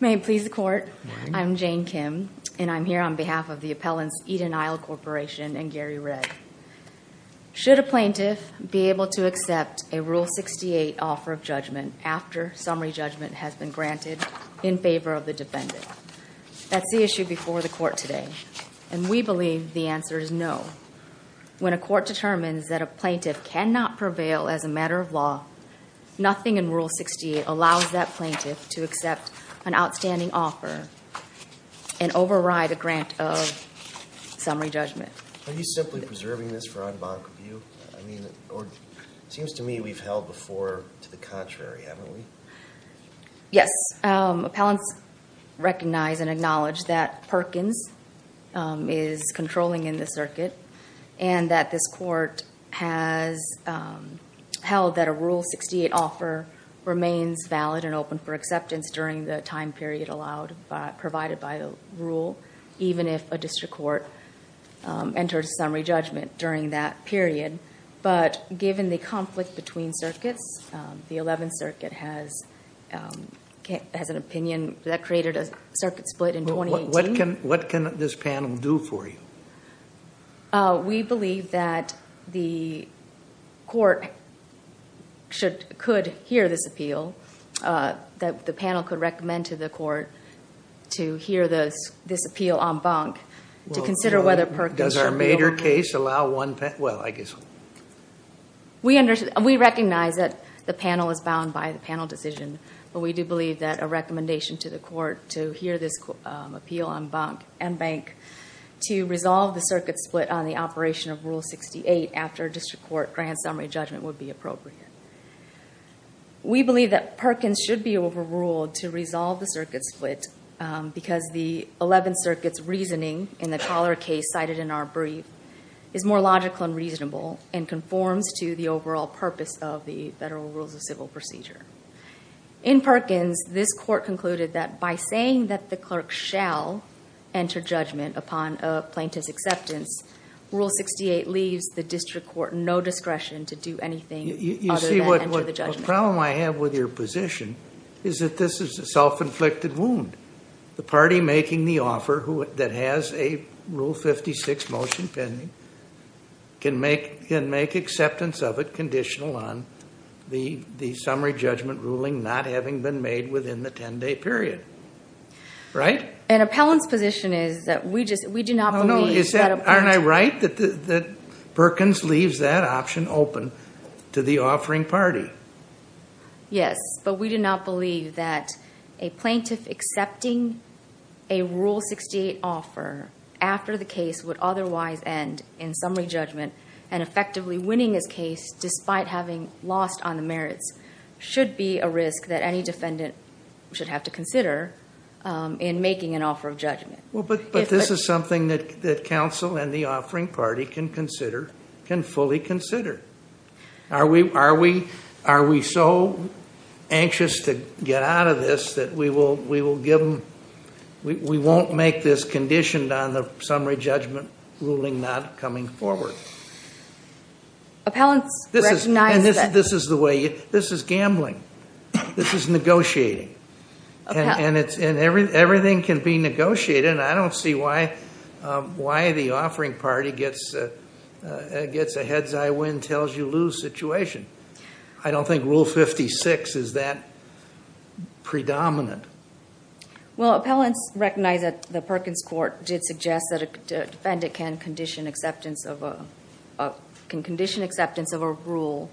May it please the court, I'm Jane Kim and I'm here on behalf of the appellants Eden Isle Corporation and Gary Redd. Should a plaintiff be able to accept a Rule 68 offer of judgment after summary judgment has been granted in favor of the defendant? That's the issue before the court today and we believe the answer is no. When a court determines that a plaintiff cannot prevail as a matter of law, nothing in Rule 68 allows that plaintiff to accept an outstanding offer and override a grant of summary judgment. Are you simply preserving this for ad bono review? I mean, it seems to me we've held before to the contrary, haven't we? Yes, appellants recognize and acknowledge that Perkins is controlling in the circuit and that this court has held that a Rule 68 offer remains valid and open for acceptance during the time period provided by the rule, even if a district court enters summary judgment during that period. But given the conflict between circuits, the 11th Circuit has an opinion that created a circuit split in 2018. What can this panel do for you? We believe that the court could hear this appeal, that the panel could recommend to the court to hear this appeal en banc to consider whether Perkins should be able to... Well, I guess... We recognize that the panel is bound by the panel decision, but we do believe that a recommendation to the court to hear this appeal en banc to resolve the circuit split on the operation of Rule 68 after a district court grant summary judgment would be appropriate. We believe that Perkins should be overruled to resolve the circuit split because the 11th Circuit's reasoning in the Taller case cited in our brief is more logical and reasonable and conforms to the overall purpose of the Federal Rules of Civil Procedure. In Perkins, this court concluded that by saying that the clerk shall enter judgment upon a plaintiff's acceptance, Rule 68 leaves the district court no discretion to do anything other than enter the judgment. You see, what problem I have with your position is that this is a self-inflicted wound. The party making the offer that has a Rule 56 motion pending can make acceptance of it conditional on the summary judgment ruling not having been made within the 10-day period. Right? An appellant's position is that we do not believe that... Aren't I right that Perkins leaves that option open to the offering party? Yes, but we do not believe that a plaintiff accepting a Rule 68 offer after the case would otherwise end in summary judgment and effectively winning his case despite having lost on the merits should be a risk that any defendant should have to consider in making an offer of judgment. But this is something that counsel and the offering party can consider, can fully consider. Are we so anxious to get out of this that we won't make this conditioned on the summary judgment ruling not coming forward? Appellants recognize that... This is gambling. This is negotiating. And everything can be negotiated, and I don't see why the offering party gets a head's-eye-win-tells-you-lose situation. I don't think Rule 56 is that predominant. Well, appellants recognize that the Perkins court did suggest that a defendant can condition acceptance of a rule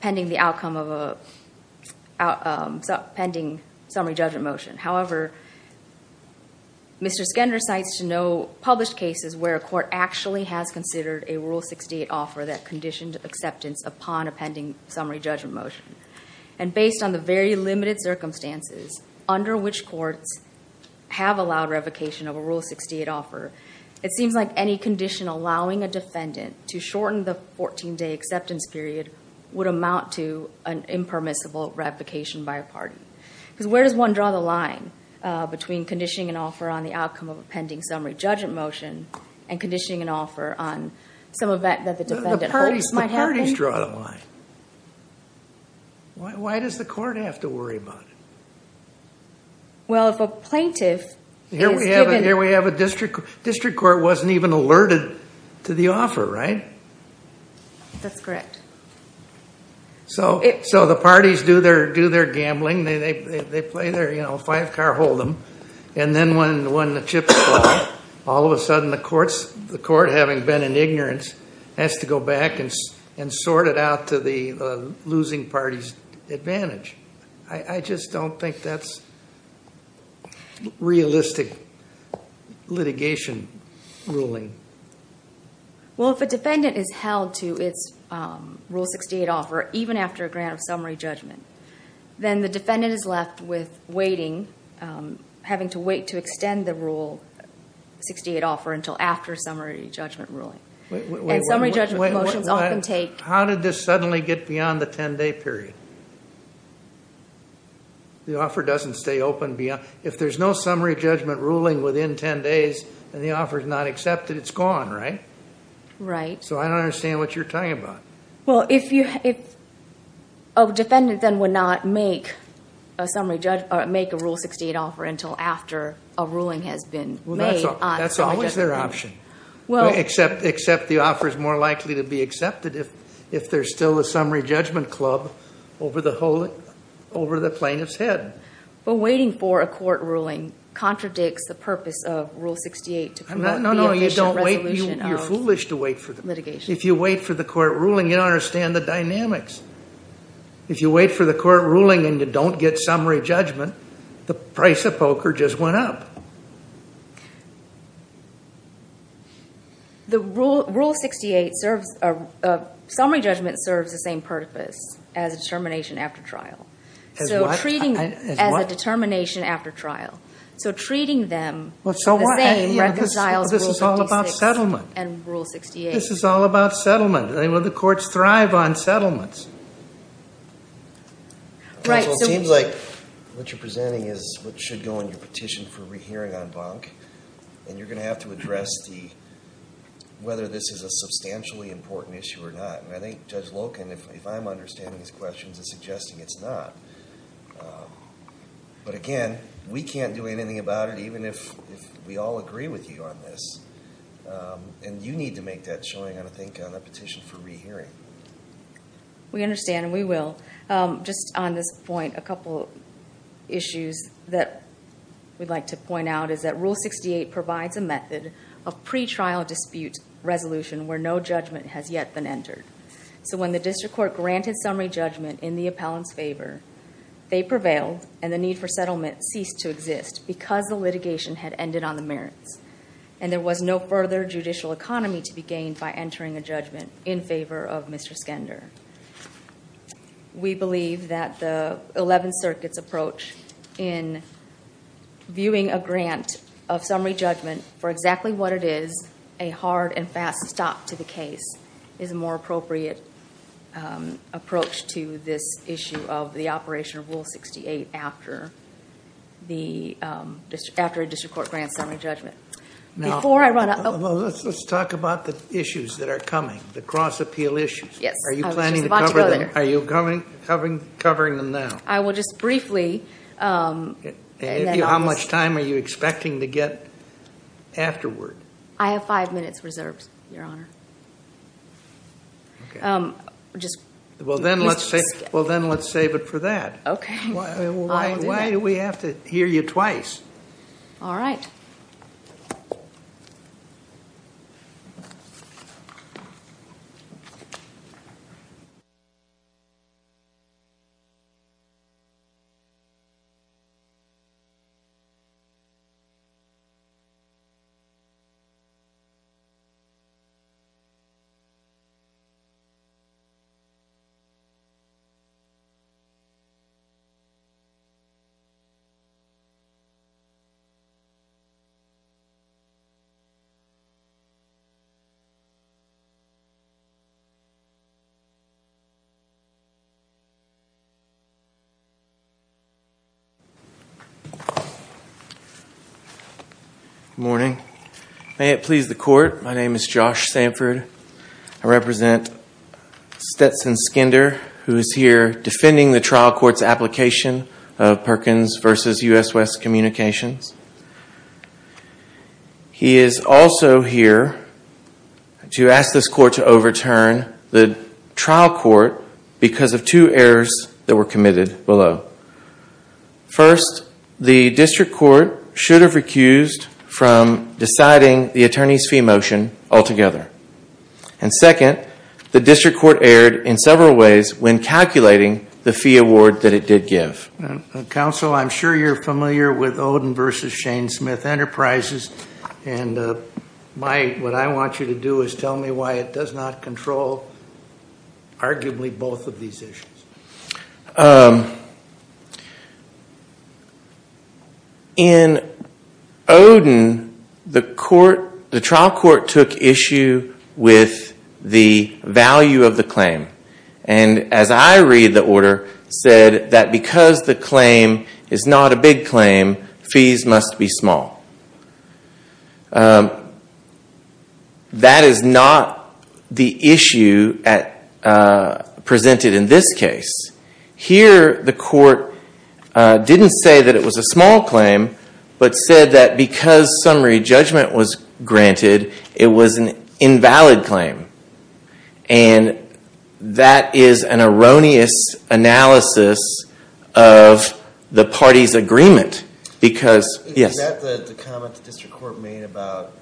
pending the outcome of a... Pending summary judgment motion. However, Mr. Skender cites no published cases where a court actually has considered a Rule 68 offer that conditioned acceptance upon a pending summary judgment motion. And based on the very limited circumstances under which courts have allowed revocation of a Rule 68 offer, it seems like any condition allowing a defendant to shorten the 14-day acceptance period would amount to an impermissible revocation by a party. Because where does one draw the line between conditioning an offer on the outcome of a pending summary judgment motion and conditioning an offer on some event that the defendant hopes might happen? Why does the court have to worry about it? Well, if a plaintiff is given... Here we have a district court that wasn't even alerted to the offer, right? That's correct. So the parties do their gambling. They play their five-car hold'em. And then when the chips fall, all of a sudden the court, having been in ignorance, has to go back and sort it out to the losing party's advantage. I just don't think that's realistic litigation ruling. Well, if a defendant is held to its Rule 68 offer, even after a grant of summary judgment, then the defendant is left with waiting, having to wait to extend the Rule 68 offer until after summary judgment ruling. And summary judgment motions often take... How did this suddenly get beyond the 10-day period? The offer doesn't stay open beyond... If there's no summary judgment ruling within 10 days and the offer's not accepted, it's gone, right? Right. So I don't understand what you're talking about. Well, if a defendant then would not make a Rule 68 offer until after a ruling has been made... That's always their option. Except the offer's more likely to be accepted if there's still a summary judgment club over the plaintiff's head. But waiting for a court ruling contradicts the purpose of Rule 68 to promote the efficient resolution of litigation. No, no, you don't wait. You're foolish to wait for the... If you wait for the court ruling, you don't understand the dynamics. If you wait for the court ruling and you don't get summary judgment, the price of poker just went up. The Rule 68 serves... Summary judgment serves the same purpose as determination after trial. As what? As a determination after trial. So treating them the same reconciles Rule 66 and Rule 68. This is all about settlement. The courts thrive on settlements. It seems like what you're presenting is what should go in your petition for rehearing on bunk. And you're going to have to address whether this is a substantially important issue or not. And I think Judge Loken, if I'm understanding these questions, is suggesting it's not. But again, we can't do anything about it even if we all agree with you on this. And you need to make that showing, I think, on the petition for rehearing. We understand and we will. Just on this point, a couple issues that we'd like to point out is that Rule 68 provides a method of pre-trial dispute resolution where no judgment has yet been entered. So when the district court granted summary judgment in the appellant's favor, they prevailed and the need for settlement ceased to exist because the litigation had ended on the merits. And there was no further judicial economy to be gained by entering a judgment in favor of Mr. Skender. We believe that the Eleventh Circuit's approach in viewing a grant of summary judgment for exactly what it is, a hard and fast stop to the case, is a more appropriate approach to this issue of the operation of Rule 68 after a district court grants summary judgment. Before I run out... Let's talk about the issues that are coming, the cross-appeal issues. Yes. I was just about to go there. Are you planning to cover them? Are you covering them now? I will just briefly... How much time are you expecting to get afterward? I have five minutes reserved, Your Honor. Well, then let's save it for that. Okay. Why do we have to hear you twice? All right. Thank you. Good morning. May it please the Court, my name is Josh Sanford. I represent Stetson Skender, who is here defending the trial court's application of Perkins v. U.S. West Communications. He is also here to ask this Court to overturn the trial court because of two errors that were committed below. First, the district court should have recused from deciding the attorney's fee motion altogether. And second, the district court erred in several ways when calculating the fee award that it did give. Counsel, I'm sure you're familiar with Oden v. Shane Smith Enterprises. And what I want you to do is tell me why it does not control arguably both of these issues. In Oden, the trial court took issue with the value of the claim. And as I read the order, it said that because the claim is not a big claim, fees must be small. That is not the issue presented in this case. Here, the court didn't say that it was a small claim, but said that because summary judgment was granted, it was an invalid claim. And that is an erroneous analysis of the parties' agreement. Is that the comment the district court made about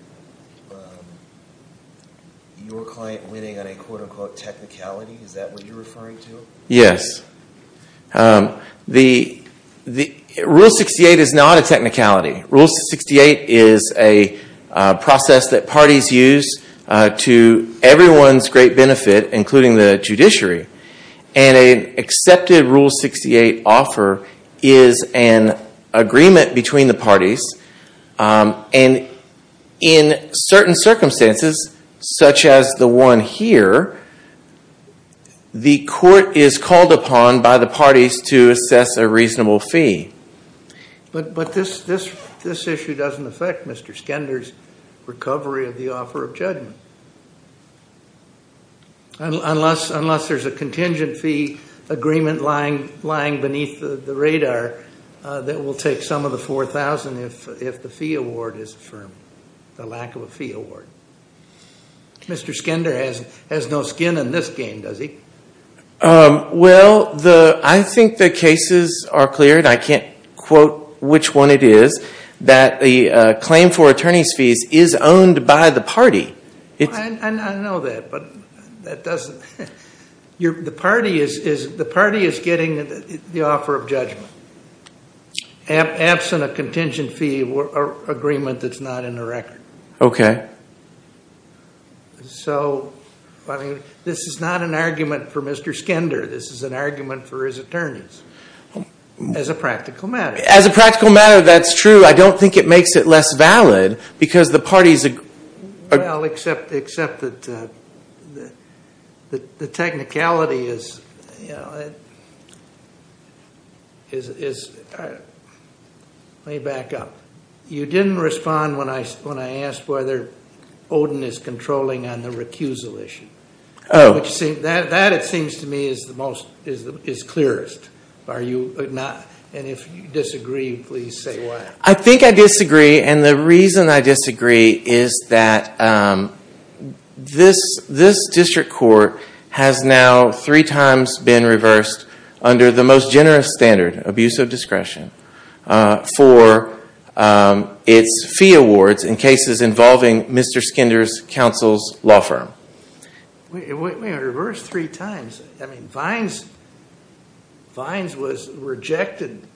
your client winning on a quote-unquote technicality? Is that what you're referring to? Yes. Rule 68 is not a technicality. Rule 68 is a process that parties use to everyone's great benefit, including the judiciary. And an accepted Rule 68 offer is an agreement between the parties. And in certain circumstances, such as the one here, the court is called upon by the parties to assess a reasonable fee. But this issue doesn't affect Mr. Skender's recovery of the offer of judgment. Unless there's a contingent fee agreement lying beneath the radar that will take some of the $4,000 if the fee award is affirmed, the lack of a fee award. Mr. Skender has no skin in this game, does he? Well, I think the cases are clear, and I can't quote which one it is, that the claim for attorney's fees is owned by the party. I know that, but that doesn't... The party is getting the offer of judgment, absent a contingent fee agreement that's not in the record. Okay. So, this is not an argument for Mr. Skender. This is an argument for his attorneys, as a practical matter. As a practical matter, that's true. I don't think it makes it less valid, because the parties... Well, except that the technicality is... Let me back up. You didn't respond when I asked whether Odin is controlling on the recusal issue. Oh. That, it seems to me, is clearest. And if you disagree, please say why. I think I disagree, and the reason I disagree is that this district court has now three times been reversed under the most generous standard, abuse of discretion, for its fee awards in cases involving Mr. Skender's counsel's law firm. We were reversed three times. I mean, Vines rejected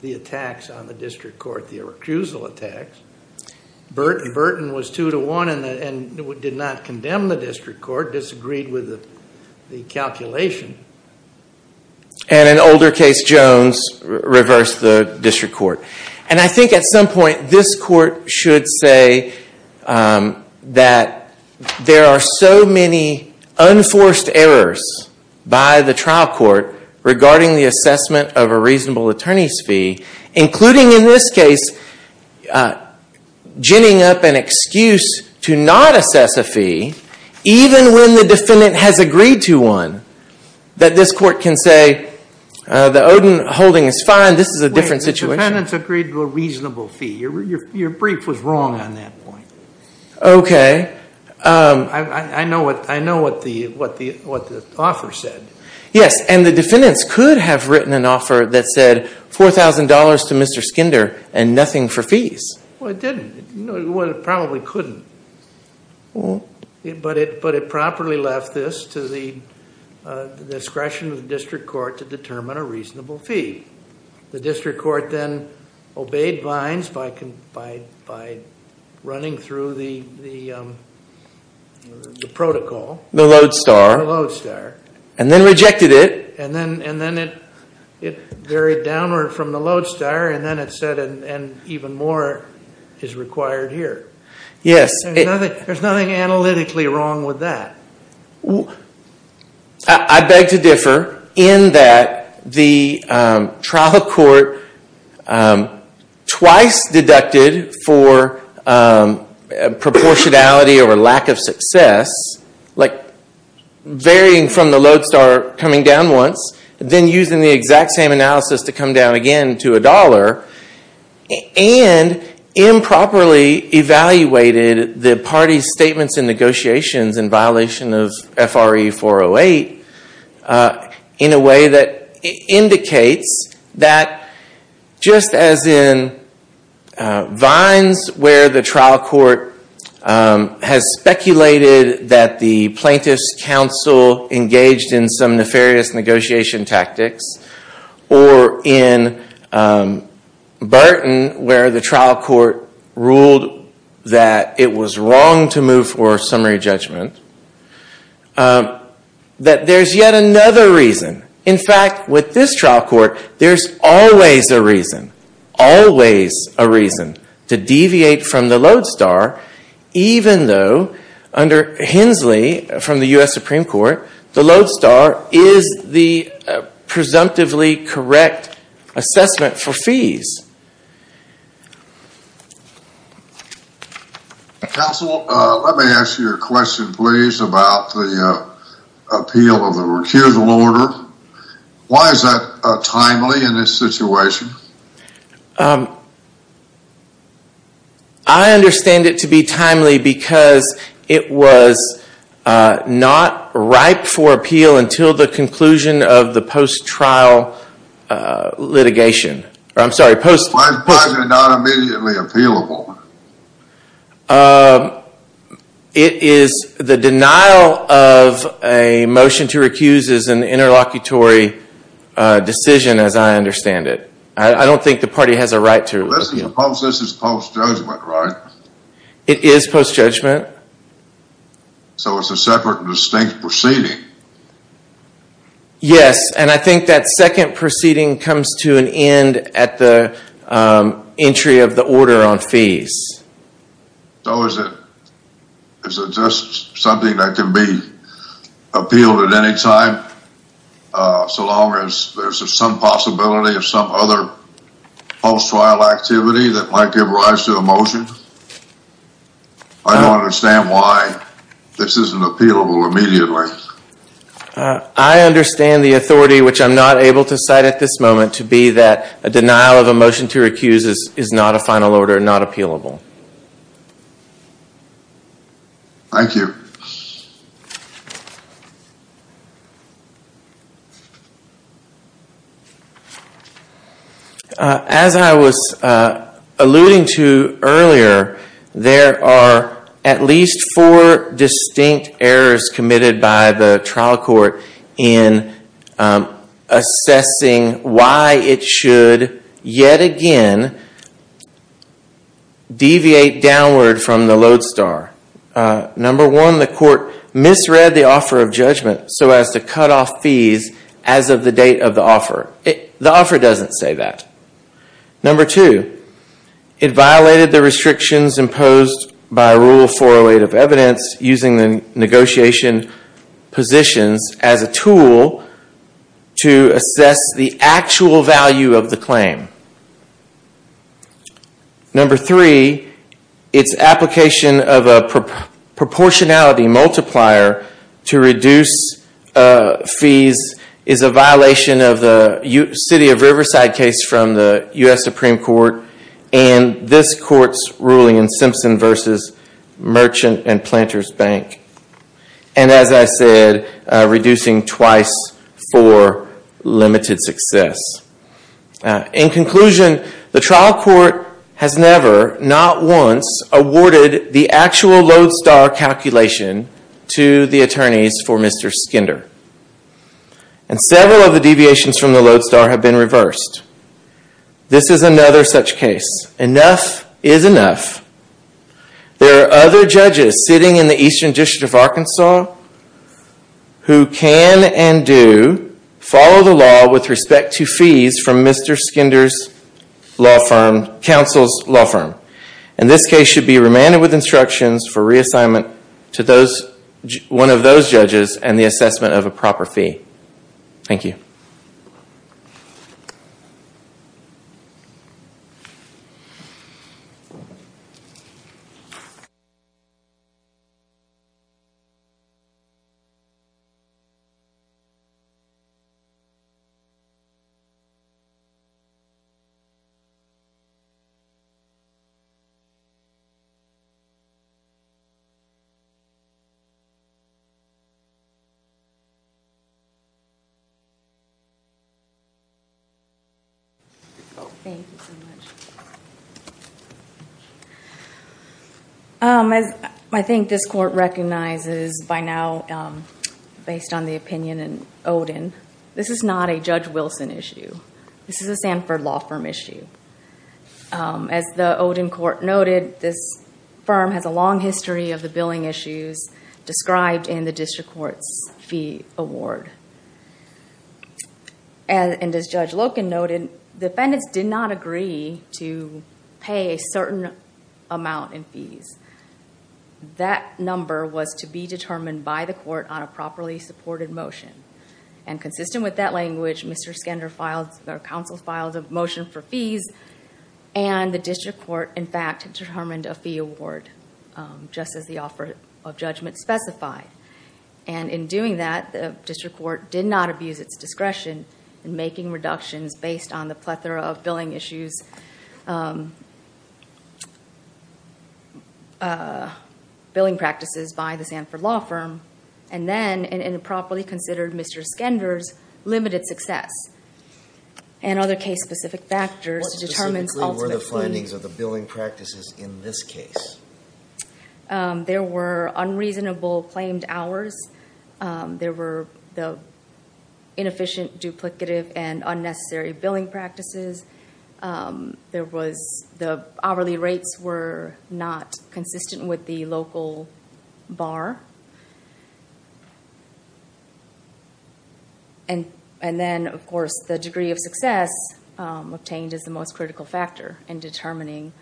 the attacks on the district court, the recusal attacks. Burton was two to one and did not condemn the district court, disagreed with the calculation. And an older case, Jones, reversed the district court. And I think at some point, this court should say that there are so many unforced errors by the trial court regarding the assessment of a reasonable attorney's fee, including in this case, ginning up an excuse to not assess a fee, even when the defendant has agreed to one, that this court can say, the Odin holding is fine, this is a different situation. The defendants agreed to a reasonable fee. Your brief was wrong on that point. Okay. I know what the author said. Yes, and the defendants could have written an offer that said $4,000 to Mr. Skender and nothing for fees. Well, it didn't. Well, it probably couldn't. But it properly left this to the discretion of the district court to determine a reasonable fee. The district court then obeyed Vines by running through the protocol. The Lodestar. The Lodestar. And then rejected it. And then it varied downward from the Lodestar, and then it said, and even more is required here. Yes. There's nothing analytically wrong with that. I beg to differ in that the trial court twice deducted for proportionality or lack of success, like varying from the Lodestar coming down once, then using the exact same analysis to come down again to a dollar, and improperly evaluated the party's statements and negotiations in violation of F.R.E. 408 in a way that indicates that just as in Vines where the trial court has speculated that the plaintiff's counsel engaged in some nefarious negotiation tactics, or in Burton where the trial court ruled that it was wrong to move for summary judgment, that there's yet another reason. In fact, with this trial court, there's always a reason, always a reason to deviate from the Lodestar, even though under Hensley from the U.S. Supreme Court, the Lodestar is the presumptively correct assessment for fees. Counsel, let me ask you a question, please, about the appeal of the recusal order. Why is that timely in this situation? I understand it to be timely because it was not ripe for appeal until the conclusion of the post-trial litigation. I'm sorry, post-trial. Why is it not immediately appealable? It is the denial of a motion to recuse is an interlocutory decision as I understand it. I don't think the party has a right to. Suppose this is post-judgment, right? It is post-judgment. So it's a separate and distinct proceeding. Yes, and I think that second proceeding comes to an end at the entry of the order on fees. So is it just something that can be appealed at any time so long as there's some possibility of some other post-trial activity that might give rise to a motion? I don't understand why this isn't appealable immediately. I understand the authority, which I'm not able to cite at this moment, to be that a denial of a motion to recuse is not a final order, not appealable. Thank you. Thank you. As I was alluding to earlier, there are at least four distinct errors committed by the trial court in assessing why it should yet again deviate downward from the lodestar. Number one, the court misread the offer of judgment so as to cut off fees as of the date of the offer. The offer doesn't say that. Number two, it violated the restrictions imposed by Rule 408 of evidence using the negotiation positions as a tool to assess the actual value of the claim. Number three, its application of a proportionality multiplier to reduce fees is a violation of the city of Riverside case from the U.S. Supreme Court and this court's ruling in Simpson v. Merchant and Planters Bank. And as I said, reducing twice for limited success. In conclusion, the trial court has never, not once, awarded the actual lodestar calculation to the attorneys for Mr. Skinder. And several of the deviations from the lodestar have been reversed. This is another such case. Enough is enough. There are other judges sitting in the Eastern District of Arkansas who can and do follow the law with respect to fees from Mr. Skinder's counsel's law firm. And this case should be remanded with instructions for reassignment to one of those judges and the assessment of a proper fee. Thank you. Thank you so much. I think this court recognizes by now, based on the opinion in Oden, this is not a Judge Wilson issue. This is a Sanford law firm issue. As the Oden court noted, this firm has a long history of the billing issues described in the district court's fee award. And as Judge Loken noted, defendants did not agree to pay a certain amount in fees. That number was to be determined by the court on a properly supported motion. And consistent with that language, Mr. Skinder filed, or counsel filed, a motion for fees. And the district court, in fact, determined a fee award, just as the offer of judgment specified. And in doing that, the district court did not abuse its discretion in making reductions based on the plethora of billing issues, billing practices by the Sanford law firm, and then in a properly considered Mr. Skinder's limited success, and other case-specific factors to determine ultimate fee. What specifically were the findings of the billing practices in this case? There were unreasonable claimed hours. There were the inefficient, duplicative, and unnecessary billing practices. There was the hourly rates were not consistent with the local bar. And then, of course, the degree of success obtained is the most critical factor in determining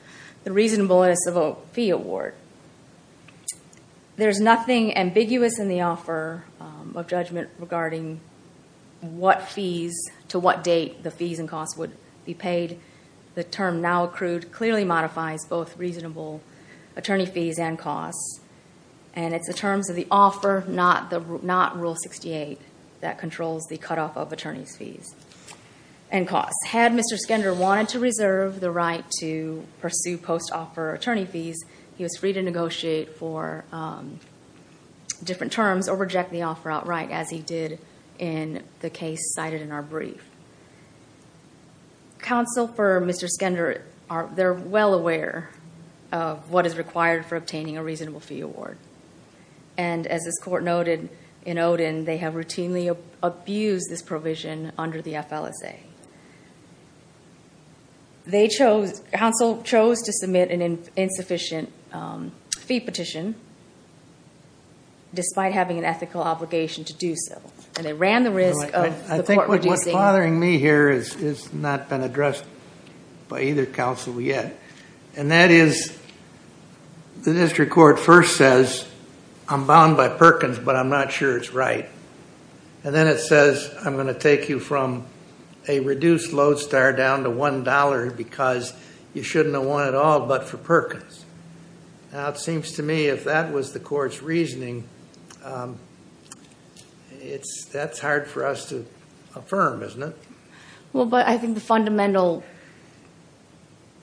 the reasonableness of a fee award. There's nothing ambiguous in the offer of judgment regarding what fees, to what date the fees and costs would be paid. The term now accrued clearly modifies both reasonable attorney fees and costs. And it's the terms of the offer, not Rule 68, that controls the cutoff of attorney's fees and costs. Had Mr. Skinder wanted to reserve the right to pursue post-offer attorney fees, he was free to negotiate for different terms or reject the offer outright, as he did in the case cited in our brief. Counsel for Mr. Skinder, they're well aware of what is required for obtaining a reasonable fee award. And as this court noted in Odin, they have routinely abused this provision under the FLSA. They chose, counsel chose to submit an insufficient fee petition, despite having an ethical obligation to do so. And they ran the risk of the court reducing. I think what's bothering me here has not been addressed by either counsel yet. And that is, the district court first says, I'm bound by Perkins, but I'm not sure it's right. And then it says, I'm going to take you from a reduced lodestar down to $1, because you shouldn't have won it all but for Perkins. Now it seems to me if that was the court's reasoning, that's hard for us to affirm, isn't it? Well, but I think the fundamental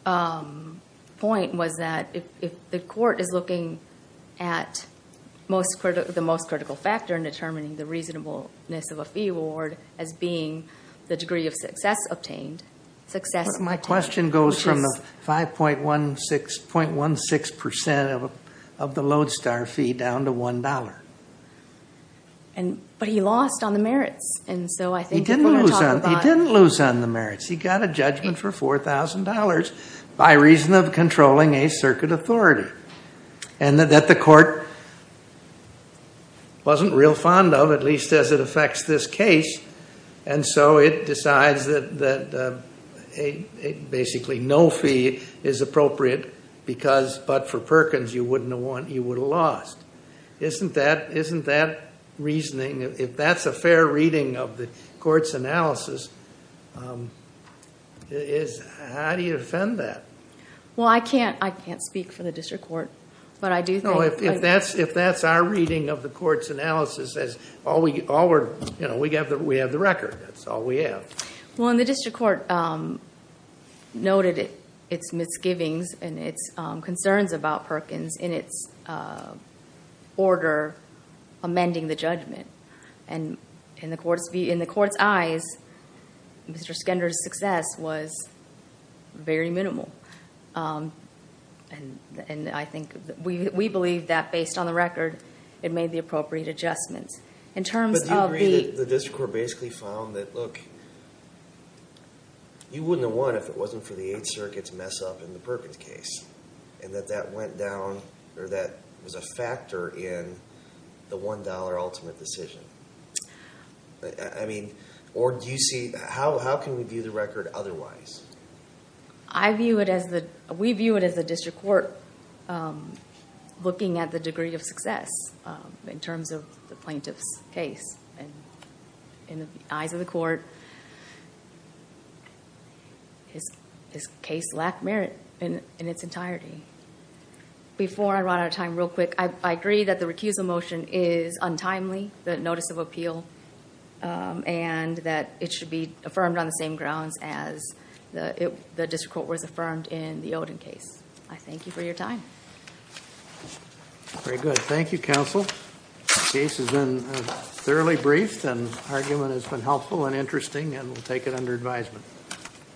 point was that if the court is looking at the most critical factor in determining the reasonableness of a fee award as being the degree of success obtained. My question goes from the 5.16% of the lodestar fee down to $1. But he lost on the merits. He didn't lose on the merits. He got a judgment for $4,000 by reason of controlling a circuit authority. And that the court wasn't real fond of, at least as it affects this case. And so it decides that basically no fee is appropriate, because but for Perkins you wouldn't have won, you would have lost. Isn't that reasoning, if that's a fair reading of the court's analysis, how do you defend that? Well, I can't speak for the district court, but I do think- No, if that's our reading of the court's analysis, we have the record. That's all we have. Well, and the district court noted its misgivings and its concerns about Perkins in its order amending the judgment. And in the court's eyes, Mr. Skender's success was very minimal. And I think we believe that based on the record, it made the appropriate adjustments. But do you agree that the district court basically found that, look, you wouldn't have won if it wasn't for the Eighth Circuit's mess up in the Perkins case, and that that went down or that was a factor in the $1 ultimate decision? I mean, or do you see, how can we view the record otherwise? I view it as the, we view it as the district court looking at the degree of success in terms of the plaintiff's case. And in the eyes of the court, his case lacked merit in its entirety. Before I run out of time, real quick, I agree that the recusal motion is untimely, the notice of appeal, and that it should be affirmed on the same grounds as the district court was affirmed in the Oden case. I thank you for your time. Very good. Thank you, counsel. The case has been thoroughly briefed, and the argument has been helpful and interesting, and we'll take it under advisement.